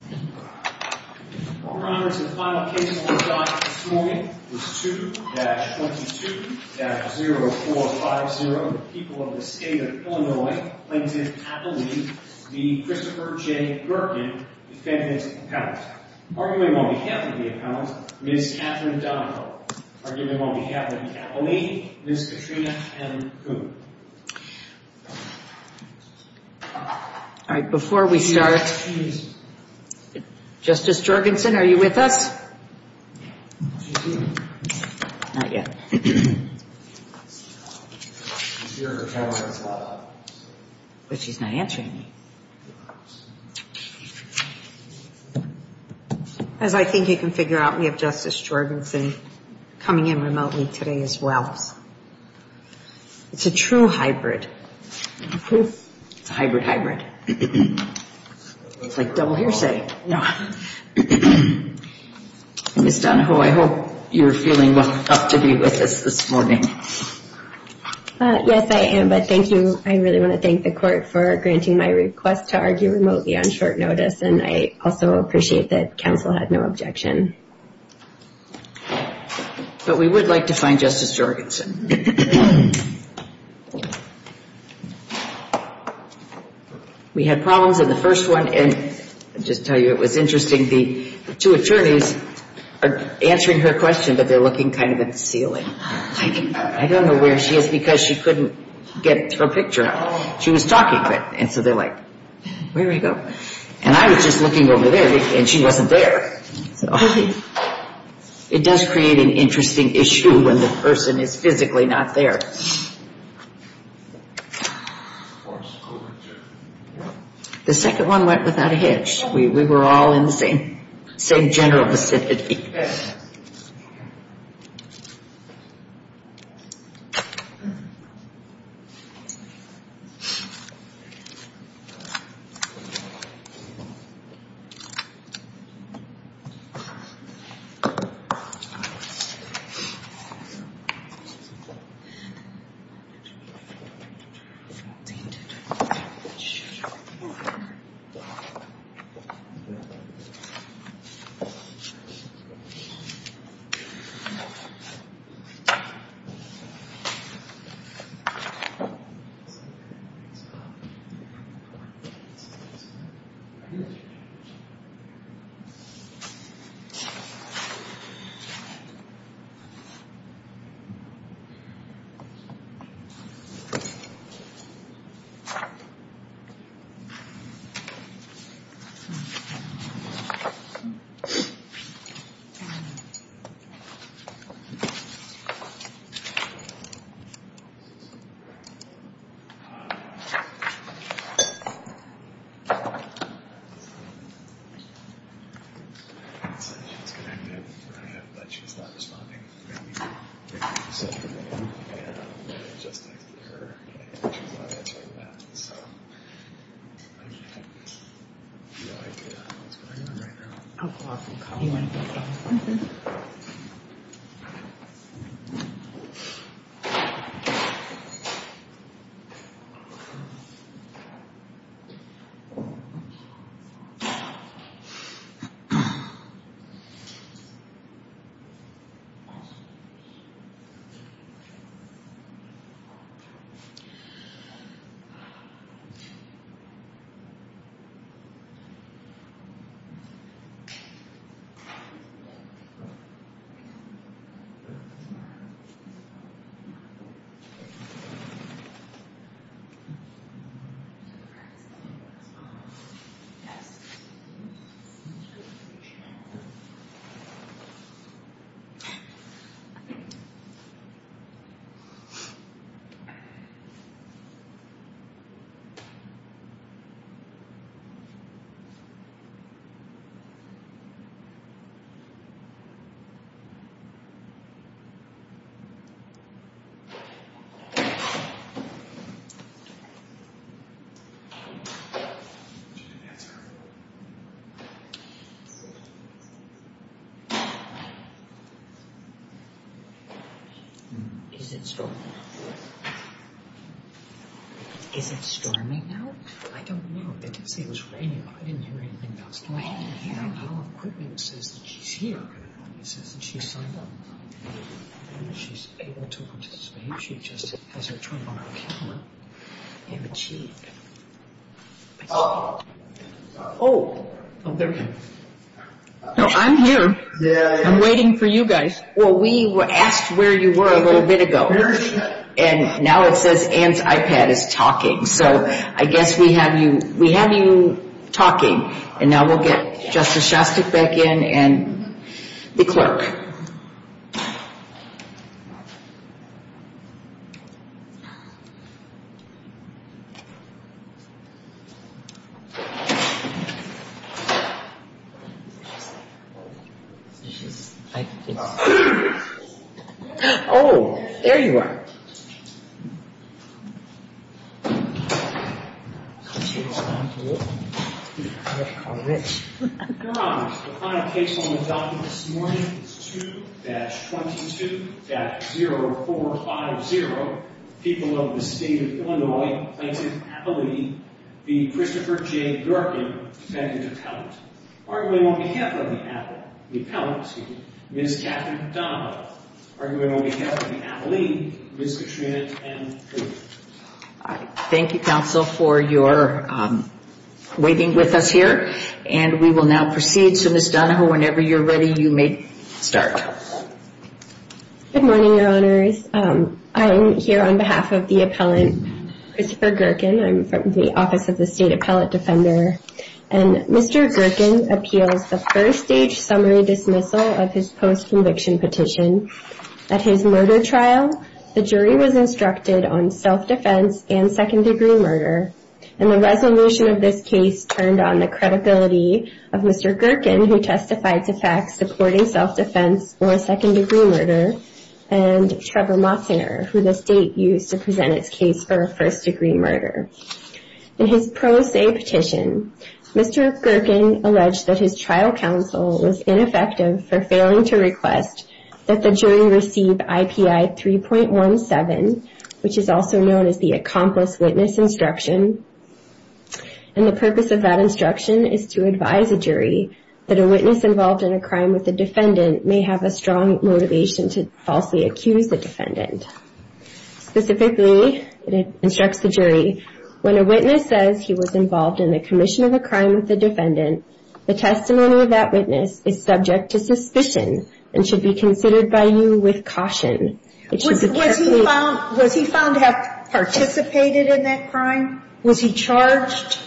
2-22-0450 People of the State of Illinois plaintiff Appellee v. Christopher J. Gerken defended the appellant. Arguing on behalf of the appellant, Ms. Catherine Donohoe. Arguing on behalf of the appellee, Ms. Katrina M. Coon. Justice Jorgensen, are you with us? As I think you can figure out we have Justice Jorgensen coming in remotely today as well. It's a true hybrid. It's a hybrid hybrid. It's like double hearsay. Ms. Donohoe, I hope you're feeling well enough to be with us this morning. Yes, I am. But thank you. I really want to thank the court for granting my request to argue remotely on short notice. And I also appreciate that counsel had no objection. But we would like to find Justice Jorgensen. We had problems in the first one. And I'll just tell you it was interesting. The two attorneys are answering her question, but they're looking kind of at the ceiling. I don't know where she is because she couldn't get her picture up. She was talking. And so they're like, where did he go? And I was just looking over there and she wasn't there. It does create an interesting issue when the person is physically not there. The second one went without a hitch. We were all in the same general vicinity. Thank you. I'll go up and call him. Thank you. Is it storming now? I don't know. They didn't say it was raining. I didn't hear anything else. I don't know how quickly it says that she's here. It says that she's signed up. She's able to participate. She just has her turn on her camera. Oh, there we go. I'm here. I'm waiting for you guys. Well, we asked where you were a little bit ago. And now it says Ann's iPad is talking. So I guess we have you talking. And now we'll get Justice Shostak back in and the clerk. Oh, there you are. All right. Your Honors, the final case on the docket this morning is 2-22-0450, People of the State of Illinois Plaintiff Appellee v. Christopher J. Durkin, Defendant Appellant. Arguing on behalf of the appellant, Ms. Katherine Donovan, arguing on behalf of the appellee, Ms. Katrina Ann Kruger. Thank you, counsel, for your waiting with us here. And we will now proceed. So, Ms. Donovan, whenever you're ready, you may start. Good morning, Your Honors. I am here on behalf of the appellant, Christopher Durkin. I'm from the Office of the State Appellant Defender. And Mr. Durkin appeals the first-stage summary dismissal of his post-conviction petition. At his murder trial, the jury was instructed on self-defense and second-degree murder. And the resolution of this case turned on the credibility of Mr. Durkin, who testified to facts supporting self-defense or second-degree murder, and Trevor Motzner, who the state used to present its case for a first-degree murder. In his pro se petition, Mr. Durkin alleged that his trial counsel was ineffective for failing to request that the jury receive IPI 3.17, which is also known as the accomplice witness instruction. And the purpose of that instruction is to advise a jury that a witness involved in a crime with a defendant may have a strong motivation to falsely accuse the defendant. Specifically, it instructs the jury, when a witness says he was involved in a commission of a crime with a defendant, the testimony of that witness is subject to suspicion and should be considered by you with caution. Was he found to have participated in that crime? Was he charged?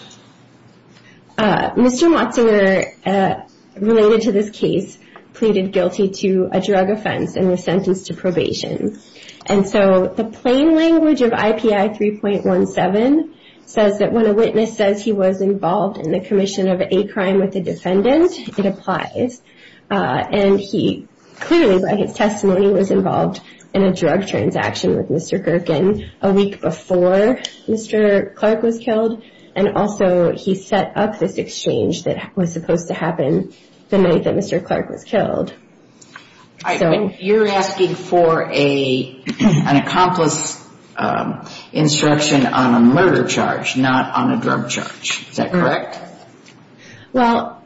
Mr. Motzner, related to this case, pleaded guilty to a drug offense and was sentenced to probation. And so the plain language of IPI 3.17 says that when a witness says he was involved in a commission of a crime with a defendant, it applies. And he clearly, by his testimony, was involved in a drug transaction with Mr. Durkin a week before Mr. Clark was killed, and also he set up this exchange that was supposed to happen the night that Mr. Clark was killed. You're asking for an accomplice instruction on a murder charge, not on a drug charge. Is that correct? Well,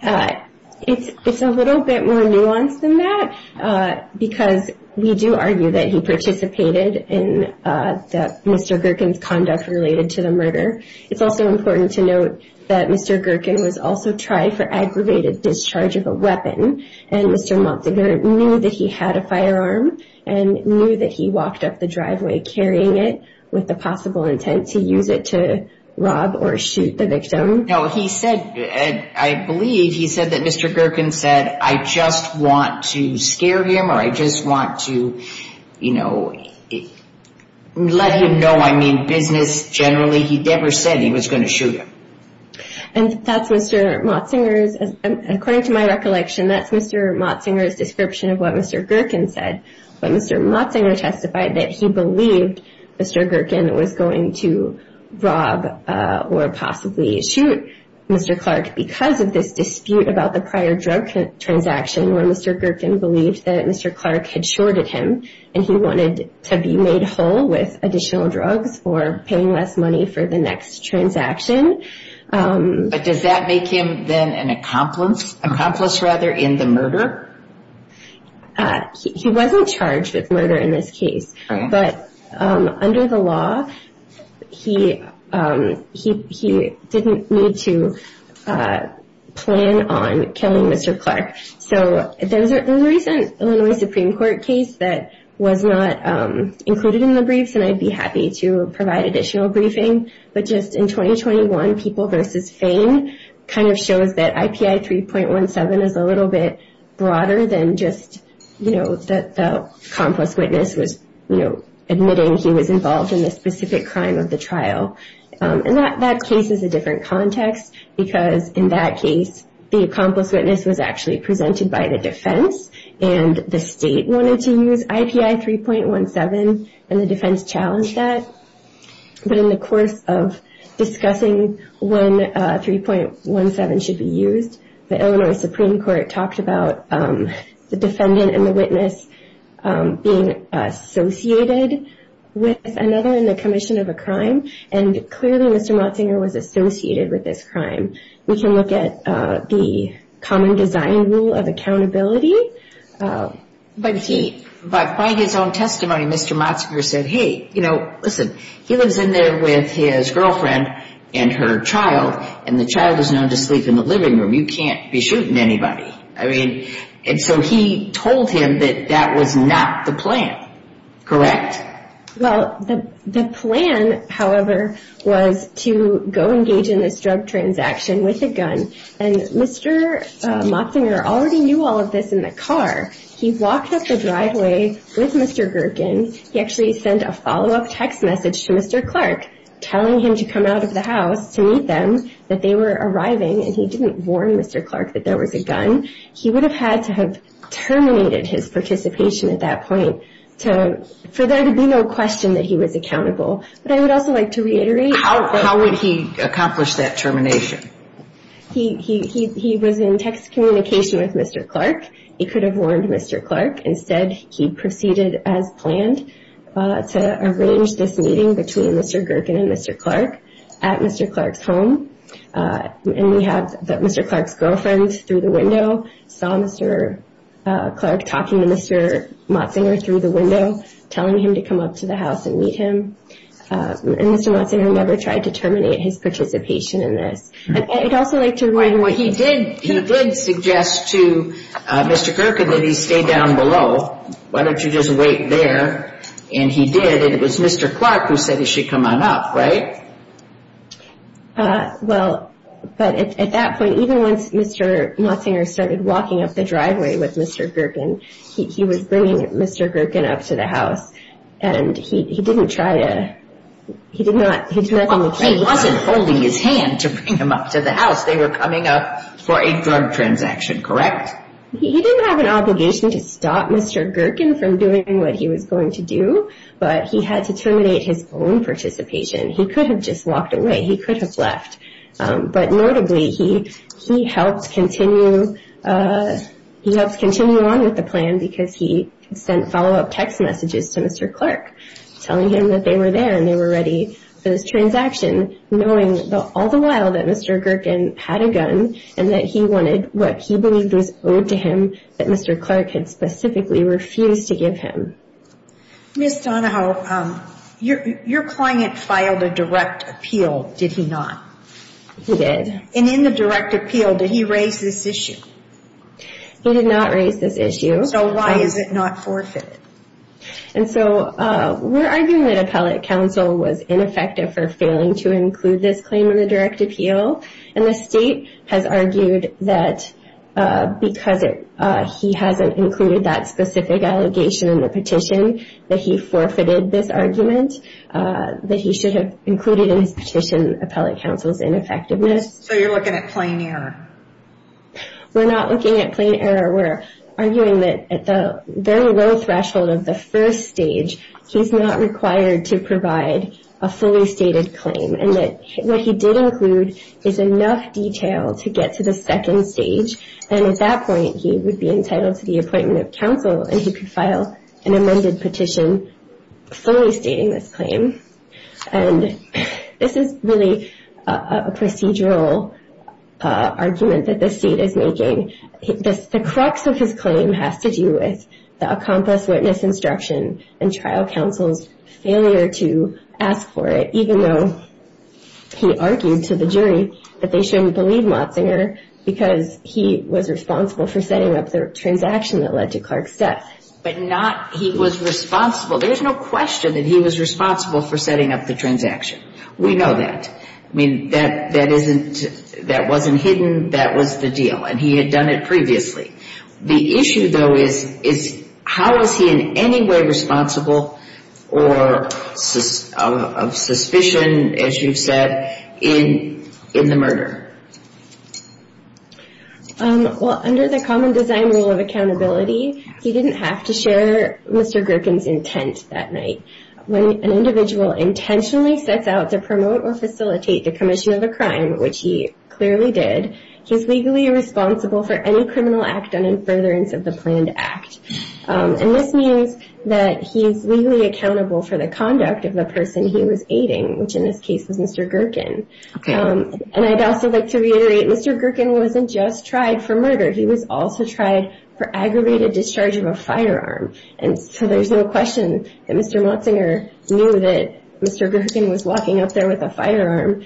it's a little bit more nuanced than that because we do argue that he participated in Mr. Durkin's conduct related to the murder. It's also important to note that Mr. Durkin was also tried for aggravated discharge of a weapon, and Mr. Motzner knew that he had a firearm and knew that he walked up the driveway carrying it with the possible intent to use it to rob or shoot the victim. Now, he said, I believe he said that Mr. Durkin said, I just want to scare him or I just want to, you know, let him know I'm in business generally. He never said he was going to shoot him. And that's Mr. Motzner's, according to my recollection, that's Mr. Motzner's description of what Mr. Durkin said. But Mr. Motzner testified that he believed Mr. Durkin was going to rob or possibly shoot Mr. Clark because of this dispute about the prior drug transaction where Mr. Durkin believed that Mr. Clark had shorted him and he wanted to be made whole with additional drugs for paying less money for the next transaction. But does that make him then an accomplice, rather, in the murder? He wasn't charged with murder in this case. But under the law, he didn't need to plan on killing Mr. Clark. So there was a recent Illinois Supreme Court case that was not included in the briefing, but just in 2021, People v. Fane kind of shows that IPI 3.17 is a little bit broader than just, you know, the accomplice witness was, you know, admitting he was involved in the specific crime of the trial. And that case is a different context because in that case, the accomplice witness was actually presented by the defense and the state wanted to use IPI 3.17, and the defense challenged that. But in the course of discussing when 3.17 should be used, the Illinois Supreme Court talked about the defendant and the witness being associated with another in the commission of a crime. And clearly, Mr. Motzinger was associated with this crime. We can look at the common design rule of accountability. But by his own testimony, Mr. Motzinger said, hey, you know, listen, he lives in there with his girlfriend and her child, and the child is known to sleep in the living room. You can't be shooting anybody. I mean, and so he told him that that was not the plan, correct? Well, the plan, however, was to go engage in this drug transaction with a gun. And Mr. Motzinger already knew all of this in the car. He walked up the driveway with Mr. Gerken. He actually sent a follow-up text message to Mr. Clark, telling him to come out of the house to meet them, that they were arriving. And he didn't warn Mr. Clark that there was a gun. He would have had to have terminated his participation at that point for there to be no question that he was accountable. But I would also like to reiterate. How would he accomplish that termination? He was in text communication with Mr. Clark. He could have warned Mr. Clark. Instead, he proceeded as planned to arrange this meeting between Mr. Gerken and Mr. Clark at Mr. Clark's home. And we had Mr. Clark's girlfriend through the window, saw Mr. Clark talking to Mr. Motzinger through the window, telling him to come up to the house and meet him. And Mr. Motzinger never tried to terminate his participation in this. I'd also like to remind what he did. He did suggest to Mr. Gerken that he stay down below. Why don't you just wait there? And he did. And it was Mr. Clark who said he should come on up, right? Well, but at that point, even once Mr. Motzinger started walking up the driveway with Mr. Gerken, he was bringing Mr. Gerken up to the house. And he didn't try to, he did not. He wasn't holding his hand to bring him up to the house. They were coming up for a drug transaction, correct? He didn't have an obligation to stop Mr. Gerken from doing what he was going to do, but he had to terminate his own participation. He could have just walked away. He could have left. But notably, he helped continue on with the plan because he sent follow-up text messages to Mr. Clark telling him that they were there and they were ready for this transaction, knowing all the while that Mr. Gerken had a gun and that he wanted what he believed was owed to him that Mr. Clark had specifically refused to give him. Ms. Donahoe, your client filed a direct appeal, did he not? He did. And in the direct appeal, did he raise this issue? He did not raise this issue. So why is it not forfeited? And so we're arguing that appellate counsel was ineffective for failing to include this claim in the direct appeal. And the state has argued that because he hasn't included that specific allegation in the petition, that he forfeited this argument, that he should have included in his petition appellate counsel's ineffectiveness. So you're looking at plain error? We're not looking at plain error. We're arguing that at the very low threshold of the first stage, he's not required to provide a fully stated claim and that what he did include is enough detail to get to the second stage and at that point he would be entitled to the appointment of counsel and he could file an amended petition fully stating this claim. And this is really a procedural argument that the state is making. The crux of his claim has to do with the accomplice witness instruction and trial counsel's failure to ask for it, even though he argued to the jury that they shouldn't believe Motzinger because he was responsible for setting up the transaction that led to Clark's death. But not he was responsible. There's no question that he was responsible for setting up the transaction. We know that. I mean, that wasn't hidden. That was the deal. And he had done it previously. The issue, though, is how is he in any way responsible or of suspicion, as you've said, in the murder? Well, under the common design rule of accountability, he didn't have to share Mr. Gerken's intent that night. When an individual intentionally sets out to promote or facilitate the commission of a crime, which he clearly did, he's legally responsible for any criminal act done in furtherance of the planned act. And this means that he's legally accountable for the conduct of the person he was aiding, which in this case was Mr. Gerken. And I'd also like to reiterate, Mr. Gerken wasn't just tried for murder. He was also tried for aggravated discharge of a firearm. And so there's no question that Mr. Motzinger knew that Mr. Gerken was walking up there with a firearm,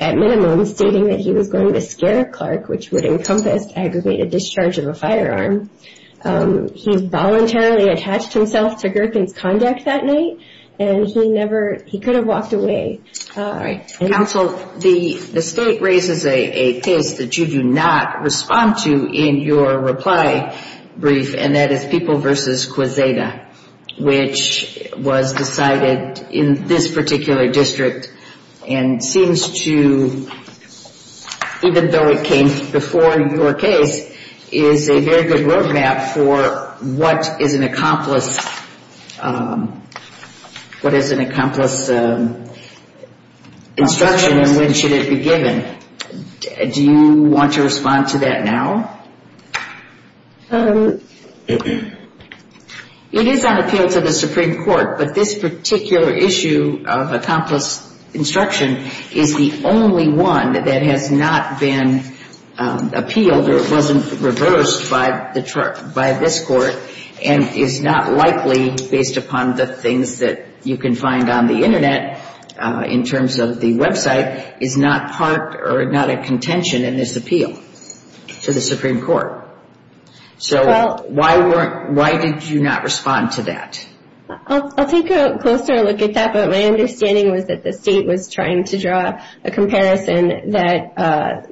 at minimum stating that he was going to scare Clark, which would encompass aggravated discharge of a firearm. He voluntarily attached himself to Gerken's conduct that night, and he never he could have walked away. All right. Counsel, the state raises a case that you do not respond to in your reply brief, and that is People v. Quesada, which was decided in this particular district and seems to, even though it came before your case, is a very good roadmap for what is an accomplice instruction and when should it be given. Do you want to respond to that now? It is on appeal to the Supreme Court, but this particular issue of accomplice instruction is the only one that has not been appealed or wasn't reversed by this court and is not likely, based upon the things that you can find on the Internet in terms of the website, is not part or not a contention in this appeal to the Supreme Court. So why did you not respond to that? I'll take a closer look at that, but my understanding was that the state was trying to draw a comparison that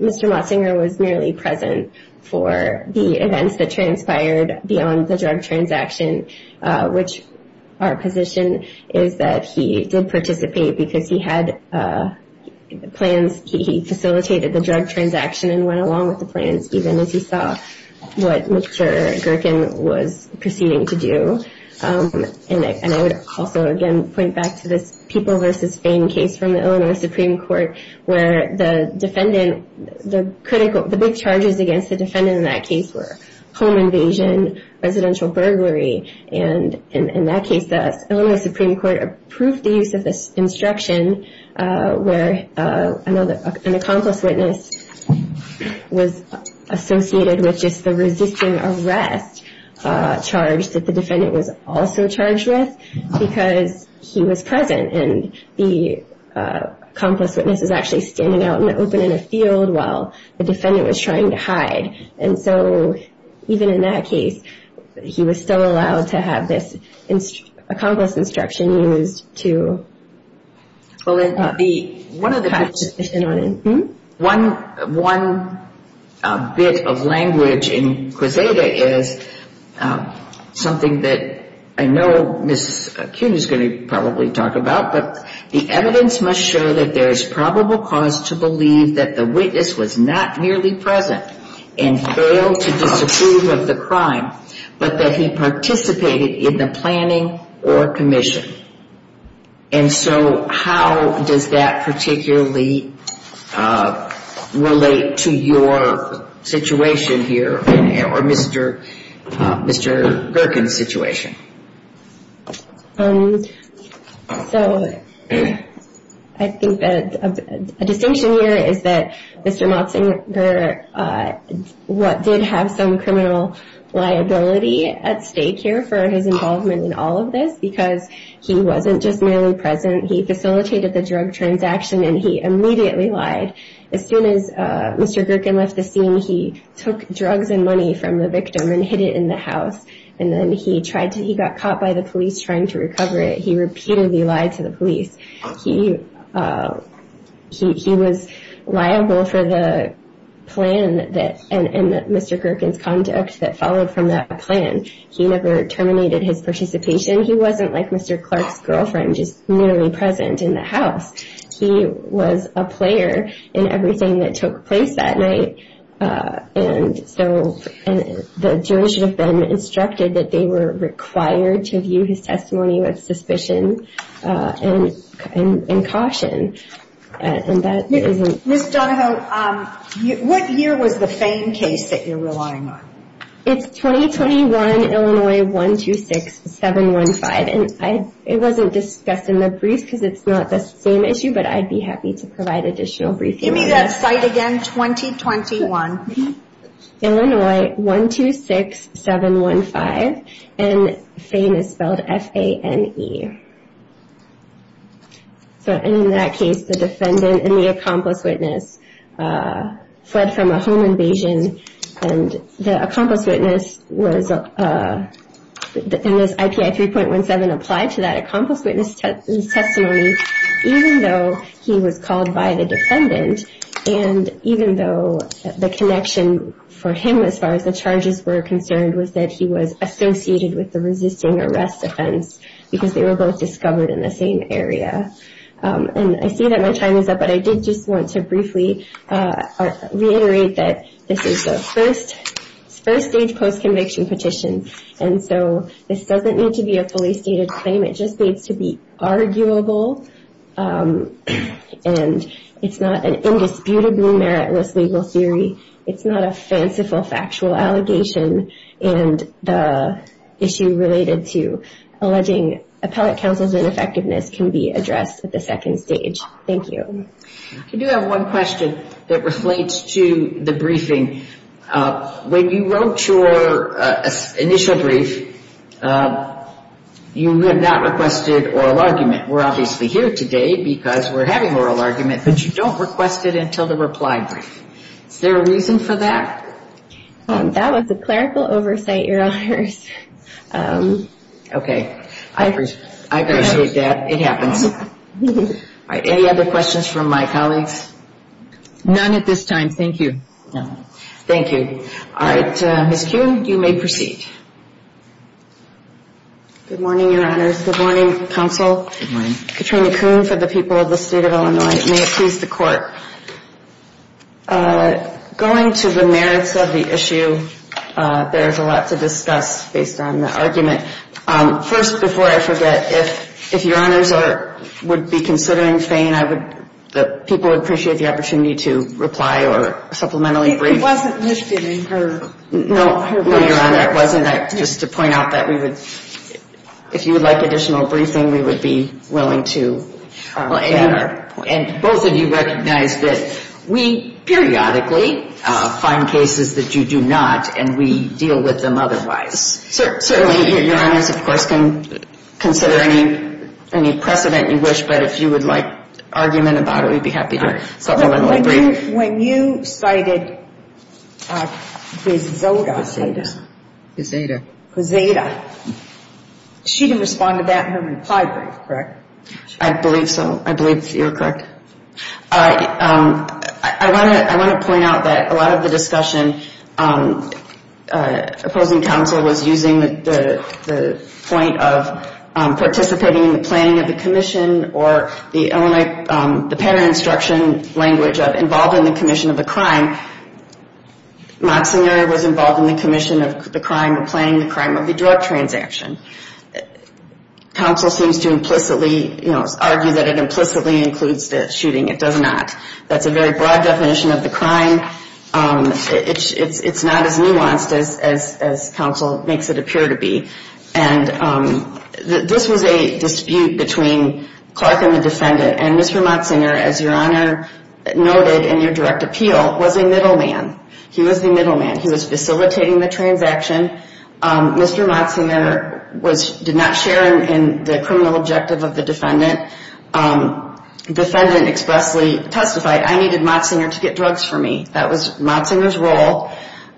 Mr. Motzinger was merely present for the events that transpired beyond the drug transaction, which our position is that he did not participate because he had plans, he facilitated the drug transaction and went along with the plans even as he saw what Mr. Gerken was proceeding to do. And I would also again point back to this People v. Fain case from the Illinois Supreme Court where the defendant, the big charges against the defendant in that case were home invasion, residential burglary, and in that case the Illinois Supreme Court approved the use of this instruction where an accomplice witness was associated with just the resisting arrest charge that the defendant was also charged with because he was present and the accomplice witness was actually standing out in the open in a field while the defendant was trying to hide. And so even in that case, he was still allowed to have this accomplice instruction used to contest his position on it. One bit of language in Quesada is something that I know Ms. Kuhn is going to probably talk about, but the evidence must show that there is probable cause to disapprove of the crime, but that he participated in the planning or commission. And so how does that particularly relate to your situation here or Mr. Gerken's situation? So I think that a distinction here is that Mr. Motzinger did have some criminal liability at stake here for his involvement in all of this because he wasn't just merely present. He facilitated the drug transaction and he immediately lied. As soon as Mr. Gerken left the scene, he took drugs and money from the victim and hid it in the house and then he got caught by the police trying to recover it. He repeatedly lied to the police. He was liable for the plan and Mr. Gerken's conduct that followed from that plan. He never terminated his participation. He wasn't like Mr. Clark's girlfriend, just merely present in the house. He was a player in everything that took place. And the police have been instructed that they were required to view his testimony with suspicion and caution. And that isn't... Ms. Donohoe, what year was the Fame case that you're relying on? It's 2021, Illinois, 126715. And it wasn't discussed in the brief because it's not the same issue, but I'd be happy to provide additional briefing. Give me that site again. 2021. Illinois, 126715. And Fame is spelled F-A-N-E. In that case, the defendant and the accomplice witness fled from a home invasion. And the accomplice witness was... And this IPI 3.17 applied to that accomplice witness testimony, even though he was called by the defendant. And even though the connection for him, as far as the charges were concerned, was that he was associated with the resisting arrest offense, because they were both discovered in the same area. And I see that my time is up, but I did just want to briefly reiterate that this is the first stage post-conviction petition. And so this doesn't need to be a fully stated claim. It just needs to be arguable. And it's not an indisputably meritless legal theory. It's not a fanciful factual allegation. And the issue related to alleging appellate counsel's ineffectiveness can be addressed at the second stage. Thank you. I do have one question that reflates to the briefing. When you wrote your initial brief, you have not requested oral argument. We're obviously here today because we're having oral argument, but you don't request it until the reply brief. Is there a reason for that? That was a clerical oversight, Your Honors. Okay. I appreciate that. It happens. Any other questions from my colleagues? None at this time. Thank you. All right. Ms. Kuhn, you may proceed. Good morning, Your Honors. Good morning, Counsel. Good morning. Katrina Kuhn for the people of the State of Illinois. May it please the Court. Going to the merits of the issue, there's a lot to discuss based on the argument. First, before I forget, if Your Honors would be considering Fain, people would appreciate the opportunity to reply or supplementary brief. I think it wasn't listed in her brochure. No, Your Honor, it wasn't. Just to point out that we would if you would like additional briefing, we would be willing to get our point. And both of you recognize that we periodically find cases that you do not, and we have a precedent you wish, but if you would like argument about it, we'd be happy to supplementary brief. When you cited Visoda. Visada. Visada. She didn't respond to that in her reply brief, correct? I believe so. I believe you're correct. All right. I want to point out that a lot of the discussion opposing counsel was using the point of participating in the planning of the commission or the Illinois, the pattern instruction language of involved in the commission of the crime. Moczner was involved in the commission of the crime of planning the crime of the drug transaction. Counsel seems to implicitly, you know, argue that it implicitly includes the shooting. It does not. That's a very broad definition of the crime. It's not as nuanced as counsel makes it appear to be. This was a dispute between Clark and the defendant. And Mr. Moczner, as Your Honor noted in your direct appeal, was a middleman. He was the middleman. He was facilitating the transaction. Mr. Moczner did not share in the criminal objective of the defendant. The defendant expressly testified, I needed Moczner to get drugs for me. That was Moczner's role.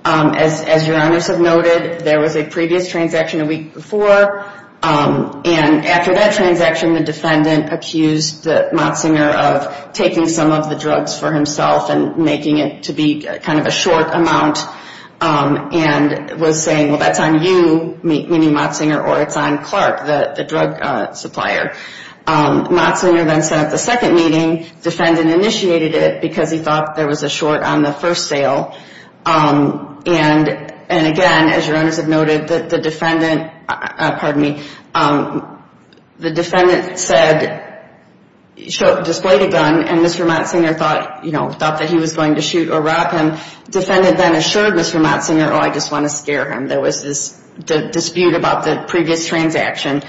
As Your Honors have noted, there was a previous transaction a week before. And after that transaction, the defendant accused Moczner of taking some of the drugs for himself and making it to be kind of a short amount and was saying, well, that's on you, meaning Moczner, or it's on Clark, the drug supplier. Moczner then set up the second meeting. Defendant initiated it because he thought there was a short on the first sale. And again, as Your Honors have noted, the defendant, pardon me, the defendant displayed a gun and Mr. Moczner thought that he was going to shoot or rob him. Defendant then assured Mr. Moczner, oh, I just want to scare him. There was this dispute about the previous transaction.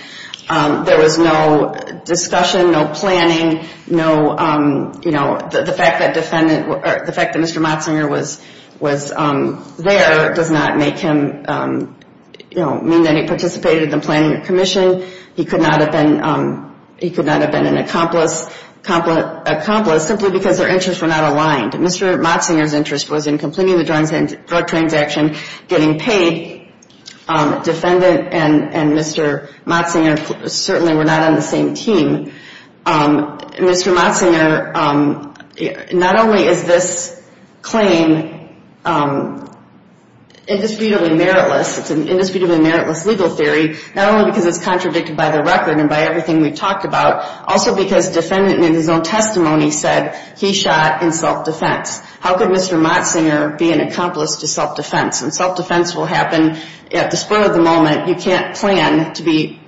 There was no discussion, no planning. The fact that Mr. Moczner was there does not make him, you know, mean that he participated in the planning or commission. He could not have been an accomplice simply because their interests were not aligned. Mr. Moczner's interest was in completing the drug transaction, getting paid. Defendant and Mr. Moczner certainly were not on the same team. Mr. Moczner, not only is this claim indisputably meritless, it's an indisputably meritless legal theory, not only because it's contradicted by the record and by everything we've talked about, also because defendant in his own testimony said he shot in self-defense. How could Mr. Moczner be an accomplice to self-defense? And self-defense will happen at the spur of the moment. You can't plan to be,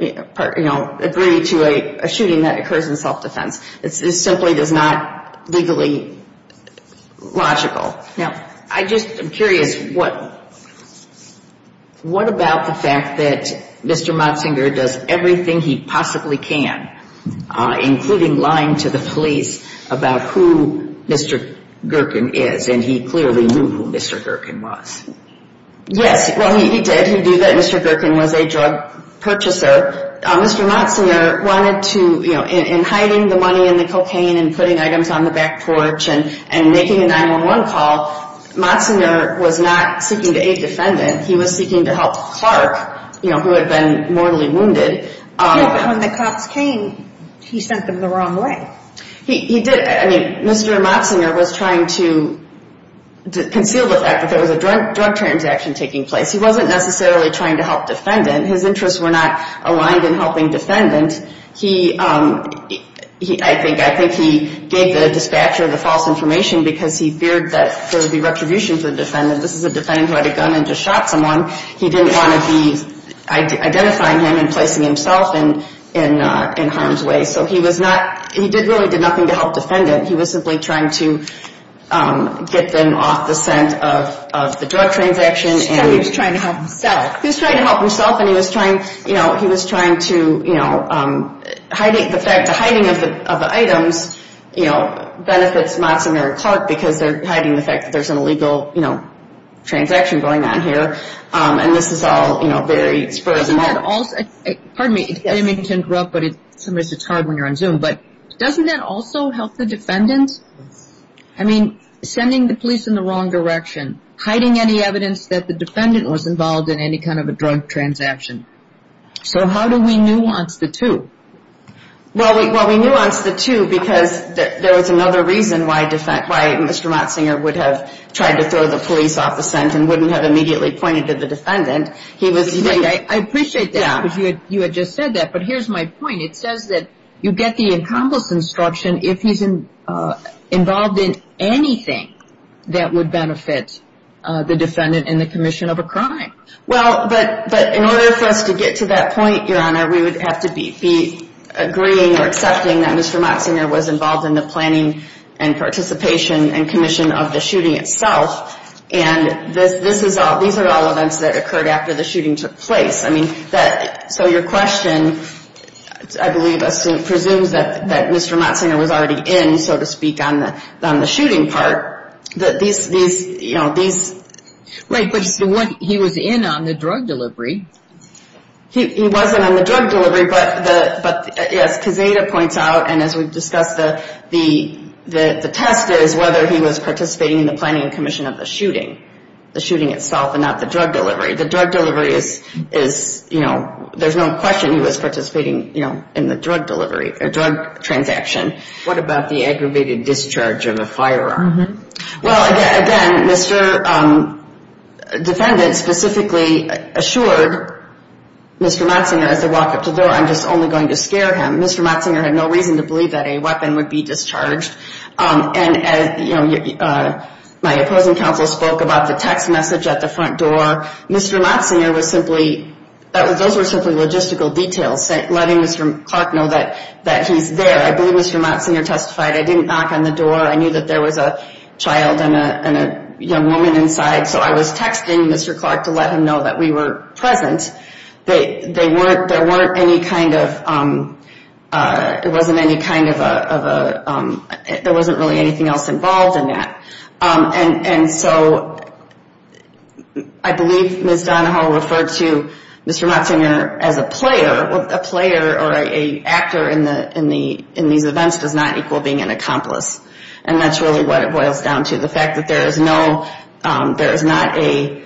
you know, agree to a shooting that occurs in self-defense. This simply is not legally logical. Now, I just am curious, what about the fact that Mr. Moczner does everything he possibly can, including lying to the police about who Mr. Gerken is, and he clearly knew who Mr. Gerken was? Yes, well, he did. He knew that Mr. Gerken was a drug purchaser. Mr. Moczner wanted to, you know, in hiding the money and the cocaine and putting items on the back porch and making a 911 call, Moczner was not seeking to aid defendant. He was seeking to help Clark, you know, who had been mortally wounded. Yeah, but when the cops came, he sent them the wrong way. He did. I mean, Mr. Moczner was trying to conceal the fact that there was a drug transaction taking place. He wasn't necessarily trying to help defendant. His interests were not aligned in helping defendant. I think he gave the dispatcher the false information because he feared that there would be retribution for the defendant. This is a defendant who had a gun and just shot someone. He didn't want to be identifying him and placing himself in harm's way. So he was not, he really did nothing to help defendant. He was simply trying to get them off the scent of the drug transaction. He was trying to help himself. He was trying to help himself and he was trying to, you know, hiding the fact, the hiding of the items, you know, benefits Moczner and Clark because they're hiding the fact that there's an illegal, you know, transaction going on here. And this is all, you know, very spur of the moment. But doesn't that also help the defendant? I mean, sending the police in the wrong direction, hiding any evidence that the defendant was involved in any kind of a drug transaction. So how do we nuance the two? Well, we nuanced the two because there was another reason why Mr. Moczner would have tried to throw the police off the scent and wouldn't have immediately pointed to the defendant. I appreciate that because you had just said that. But here's my point. It says that you get the benefit, the defendant in the commission of a crime. Well, but in order for us to get to that point, Your Honor, we would have to be agreeing or accepting that Mr. Moczner was involved in the planning and participation and commission of the shooting itself. And this is all, these are all events that occurred after the shooting took place. I mean, so your question, I believe, presumes that Mr. Moczner was already in, so to speak, on the shooting part. These, you know, these... Right, but he was in on the drug delivery. He wasn't on the drug delivery, but yes, Kazeta points out, and as we've discussed, the test is whether he was participating in the planning and commission of the shooting, the shooting itself and not the drug delivery. The drug delivery is, you know, there's no question he was participating, you know, in the drug delivery, the drug transaction. What about the aggravated discharge of a firearm? Well, again, Mr. Defendant specifically assured Mr. Moczner as they walked up to the door, I'm just only going to scare him. Mr. Moczner had no reason to believe that a weapon would be discharged. And, you know, my opposing counsel spoke about the text message at the front door. Mr. Moczner was simply, those were simply logistical details, letting Mr. Clark know that he's there. I believe Mr. Moczner testified, I didn't knock on the door, I knew that there was a child and a young woman inside, so I was texting Mr. Clark to let him know that we were present. There weren't any kind of, it wasn't any kind of, there wasn't really anything else involved in that. And so I believe Ms. Donahoe referred to Mr. Moczner as a player, a player or an actor in these events does not equal being an accomplice. And that's really what it boils down to, the fact that there is no, there is not a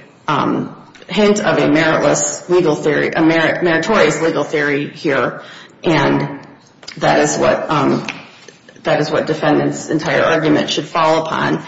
hint of a meritless legal theory, a meritorious legal theory here, and that is what defendant's entire argument should fall upon.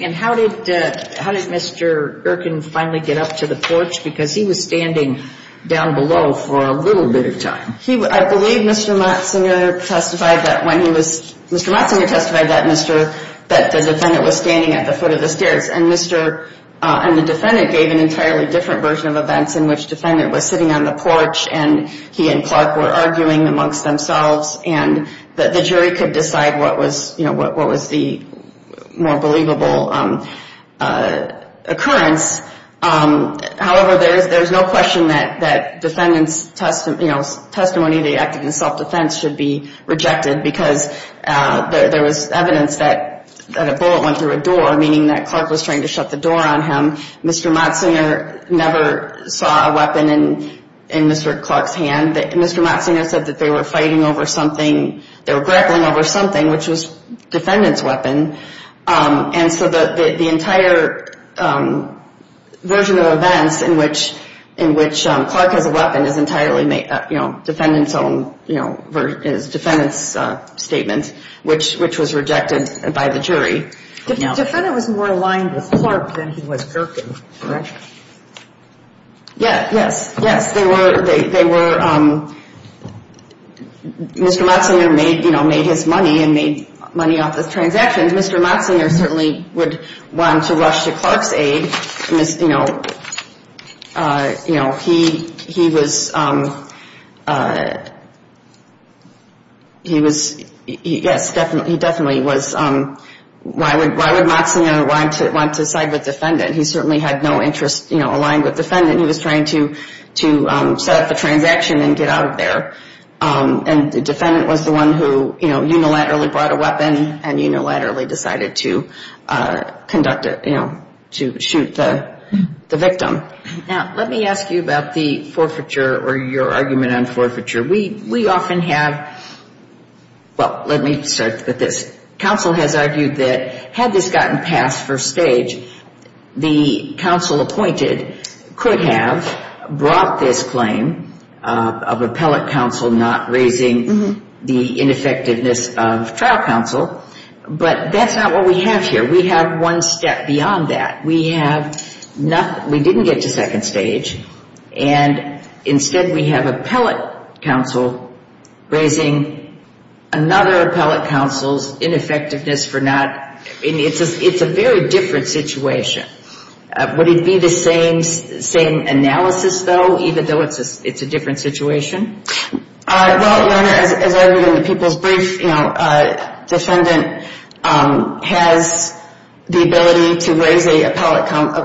And how did Mr. Erkin finally get up to the porch? Because he was standing down below for a little bit of time. I believe Mr. Moczner testified that when he was, Mr. Moczner testified that the defendant was standing at the foot of the stairs. And Mr., and the defendant gave an entirely different version of events in which defendant was sitting on the porch and he and Clark were arguing amongst themselves and the jury could decide what was, you know, what was the more believable occurrence. However, there is no question that defendant's testimony, the act of self-defense should be rejected because there was evidence that a bullet went through a door, meaning that Clark was trying to shut the door on him. Mr. Moczner never saw a weapon in Mr. Clark's hand. Mr. Moczner said that they were fighting over something, they were grappling over something, which was defendant's weapon. And so the entire version of events in which Clark has a weapon is entirely, you know, defendant's own, you know, is defendant's statement, which was rejected by the jury. Defendant was more aligned with Clark than he was Gerken, correct? Yes, yes, yes. They were, Mr. Moczner made his money and made money off the transactions. Mr. Moczner certainly would want to rush to Clark's aid. You know, he was, he was, yes, he definitely was, why would Moczner want to side with defendant? He certainly had no interest, you know, aligned with defendant. He was trying to set up the transaction and get out of there. And defendant was the one who, you know, unilaterally brought a weapon and unilaterally decided to conduct a, you know, to shoot the victim. Now, let me ask you about the forfeiture or your argument on forfeiture. We often have, well, let me start with this. Counsel has argued that had this gotten past first stage, the counsel appointed could have brought this claim of appellate counsel not raising the ineffectiveness of trial counsel. But that's not what we have here. We have one step beyond that. We have nothing, we didn't get to second stage. And instead we have appellate counsel raising another appellate counsel's ineffectiveness for not, it's a very different situation. Would it be the same, same analysis though, even though it's a different situation? The defendant has the ability to raise a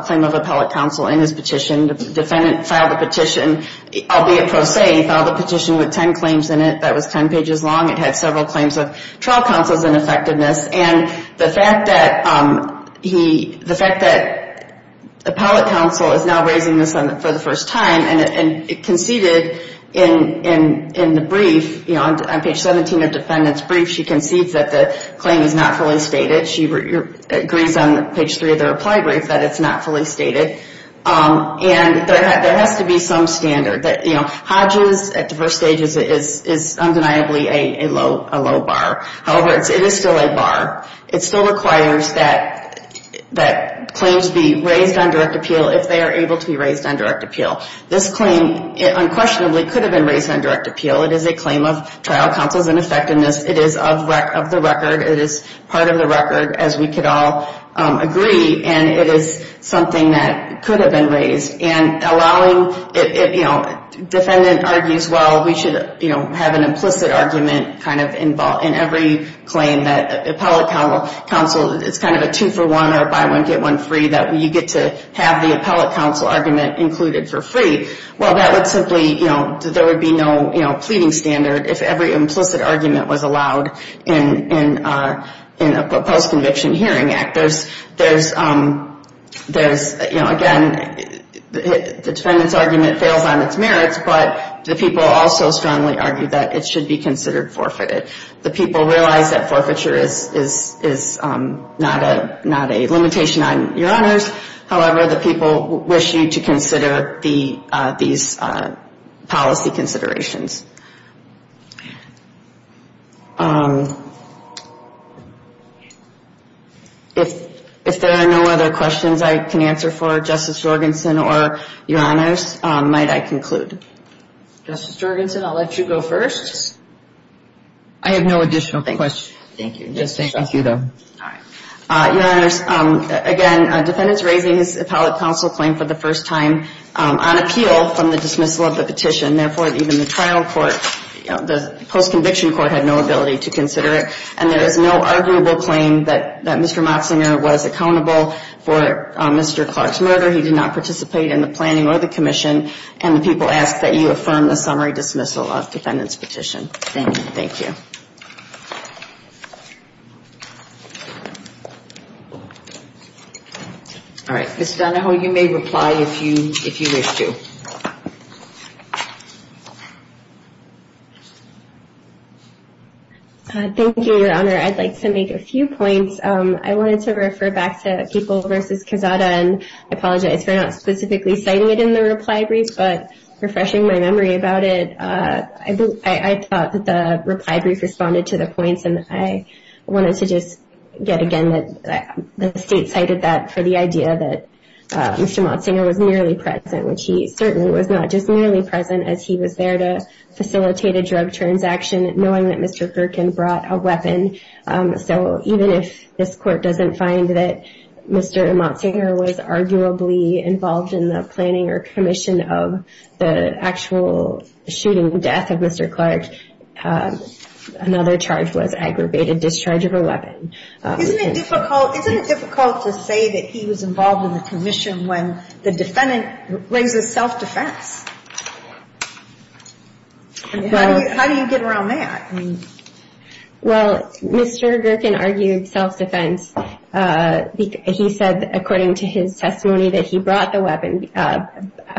claim of appellate counsel in his petition. The defendant filed a petition, albeit pro se. He filed a petition with ten claims in it that was ten pages long. It had several claims of trial counsel's ineffectiveness. And the fact that he, the fact that appellate counsel is now raising this for the first time and conceded in the brief, you know, on page 17 of defendant's brief, she concedes that the claim is not fully stated. She agrees on page 3 of the reply brief that it's not fully stated. And there has to be some standard that, you know, Hodges at the first stage is undeniably a low bar. However, it is still a bar. It still requires that claims be raised on direct appeal if they are able to be raised on direct appeal. This claim unquestionably could have been raised on direct appeal. It is a claim of trial counsel's ineffectiveness. It is of the record. It is part of the record, as we could all agree. And it is something that could have been raised. And allowing, you know, defendant argues, well, we should, you know, have an implicit argument kind of involved in every claim that appellate counsel, it's kind of a two for one or buy one get one free that you get to have the appellate counsel argument included for free. Well, that would simply, you know, there would be no, you know, pleading standard if every implicit argument was allowed in a post-conviction hearing act. There's, you know, again, the defendant's argument fails on its merits, but the people also strongly argue that it should be considered forfeited. The people realize that forfeiture is not a limitation on your honors. However, the people wish you to consider these policy considerations. If there are no other questions I can answer for Justice Jorgensen or your honors, might I conclude? Justice Jorgensen, I'll let you go first. I have no additional questions. Your honors, again, defendant's raising his appellate counsel claim for the first time on appeal from the dismissal of the petition. Therefore, even the trial court, the post-conviction court had no ability to consider it. And there is no arguable claim that Mr. Moxinger was accountable for Mr. Clark's murder. He did not participate in the planning or the commission. And the people ask that you consider the case. All right. Ms. Donahoe, you may reply if you wish to. Thank you, your honor. I'd like to make a few points. I wanted to refer back to People v. Quezada and I apologize for not specifically citing it in the case. I thought that the reply brief responded to the points. And I wanted to just get again that the state cited that for the idea that Mr. Moxinger was nearly present, which he certainly was not just nearly present as he was there to facilitate a drug transaction, knowing that Mr. Gerken brought a weapon. So even if this court doesn't find that Mr. Moxinger was arguably involved in the planning or commission of the actual shooting death of Mr. Clark, another charge was aggravated discharge of a weapon. Isn't it difficult to say that he was involved in the commission when the defendant raises self-defense? How do you get around that? Well, Mr. Gerken argued self-defense. He said, according to his testimony, that he brought the weapon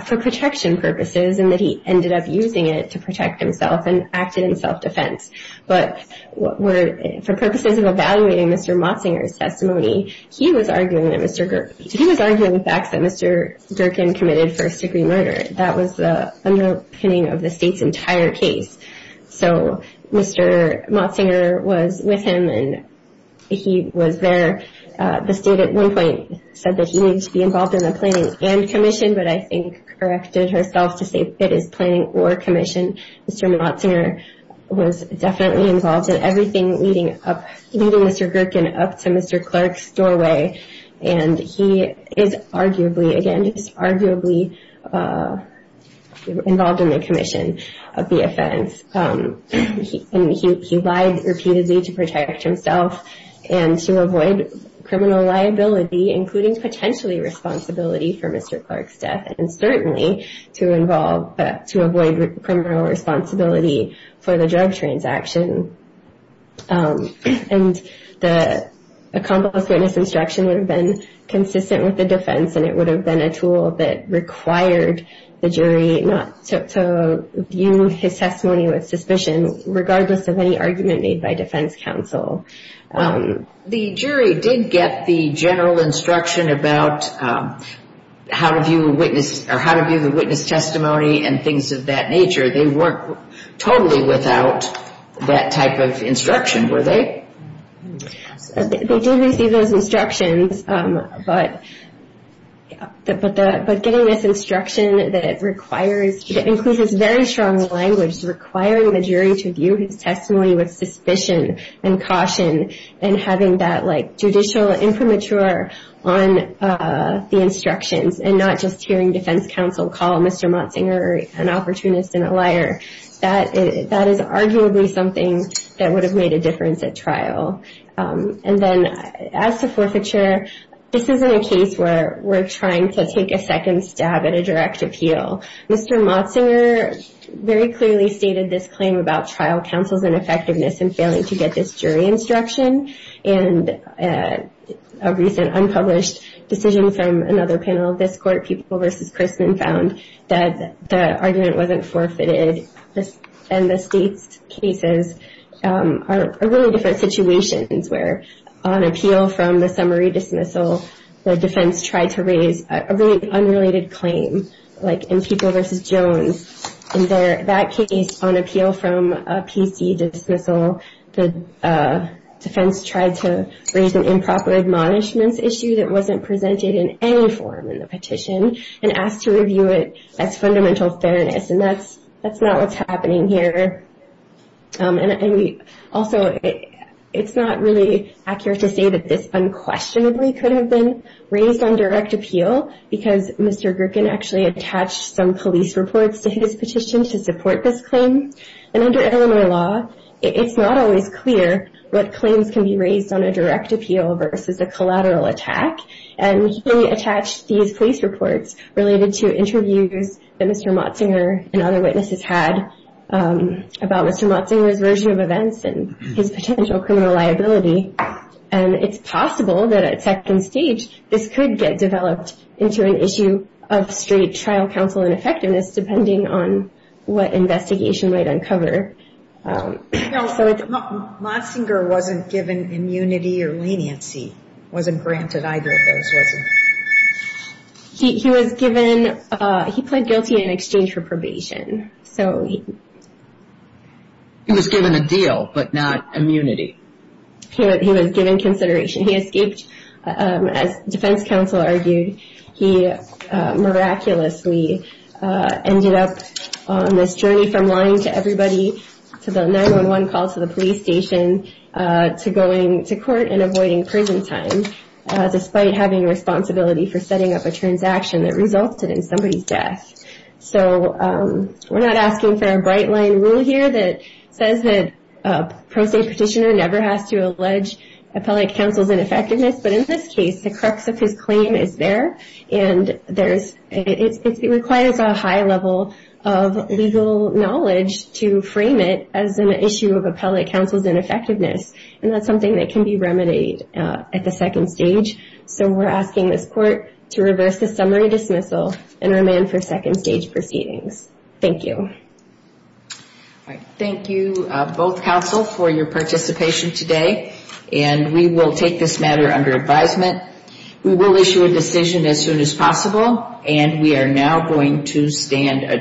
for protection purposes and that he ended up using it. To protect himself and acted in self-defense. But for purposes of evaluating Mr. Moxinger's testimony, he was arguing the facts that Mr. Gerken committed first-degree murder. That was the underpinning of the state's entire case. So Mr. Moxinger was with him and he was there. The state at one point said that he needed to be involved in the commission. Mr. Moxinger was definitely involved in everything leading Mr. Gerken up to Mr. Clark's doorway. And he is arguably, again, just arguably involved in the commission of the offense. He lied repeatedly to protect himself and to avoid criminal liability, including potentially responsibility for Mr. Clark's testimony, to avoid criminal responsibility for the drug transaction. And the accomplice witness instruction would have been consistent with the defense and it would have been a tool that required the jury not to view his testimony with suspicion, regardless of any argument made by defense counsel. Well, the jury did get the general instruction about how to view a witness testimony and things of that nature. They weren't totally without that type of instruction, were they? They did receive those instructions, but getting this instruction that requires, that includes very strong language, requiring the jury to view his testimony with suspicion and caution. And having that judicial infirmature on the instructions and not just hearing defense counsel call Mr. Moxinger an opportunist and a liar. That is arguably something that would have made a difference at trial. And then as to forfeiture, this isn't a case where we're trying to take a second stab at a direct appeal. Mr. Moxinger very clearly stated this claim about trial counsel's ineffectiveness in failing to get this jury instruction. And a recent unpublished decision from another panel of this court, People v. Chrisman, found that the argument wasn't forfeited. And the state's cases are really different situations where on appeal from the summary dismissal, the defense tried to raise a really unrelated claim, like in People v. Jones. And that case on appeal from a PC dismissal, the defense tried to raise a really unrelated claim, like in People v. Jones. And that case on appeal from a PC dismissal, the defense tried to raise an improper admonishments issue that wasn't presented in any form in the petition and asked to review it as fundamental fairness. And that's not what's happening here. And also, it's not really accurate to say that this unquestionably could have been raised on direct appeal because Mr. Grickin actually attached some police reports to his petition to support this claim. And under Illinois law, it's not always clear what claims can be raised on a direct appeal versus a collateral attack. And he attached these police reports related to interviews that Mr. Moxinger and other witnesses had about Mr. Moxinger's version of events and his potential criminal liability. And it's possible that at second stage, this could get developed into an issue of straight trial counsel ineffectiveness depending on what investigation was done. And that's something that the defense might uncover. Moxinger wasn't given immunity or leniency, wasn't granted either of those, wasn't he? He was given, he pled guilty in exchange for probation. He was given a deal, but not immunity. He was given consideration. He escaped, as defense counsel argued, he miraculously ended up on this journey from lying to execution. He was able to get everybody to the 911 call to the police station, to going to court and avoiding prison time, despite having responsibility for setting up a transaction that resulted in somebody's death. So, we're not asking for a bright line rule here that says that a pro se petitioner never has to allege appellate counsel's ineffectiveness, but in this case, the crux of his claim is there. And it requires a high level of legal knowledge to be able to do that. So, we're asking this court to frame it as an issue of appellate counsel's ineffectiveness, and that's something that can be remedied at the second stage. So, we're asking this court to reverse the summary dismissal and remand for second stage proceedings. Thank you. Thank you, both counsel, for your participation today, and we will take this matter under advisement. We will issue a decision as soon as possible, and we are now going to stand adjourned.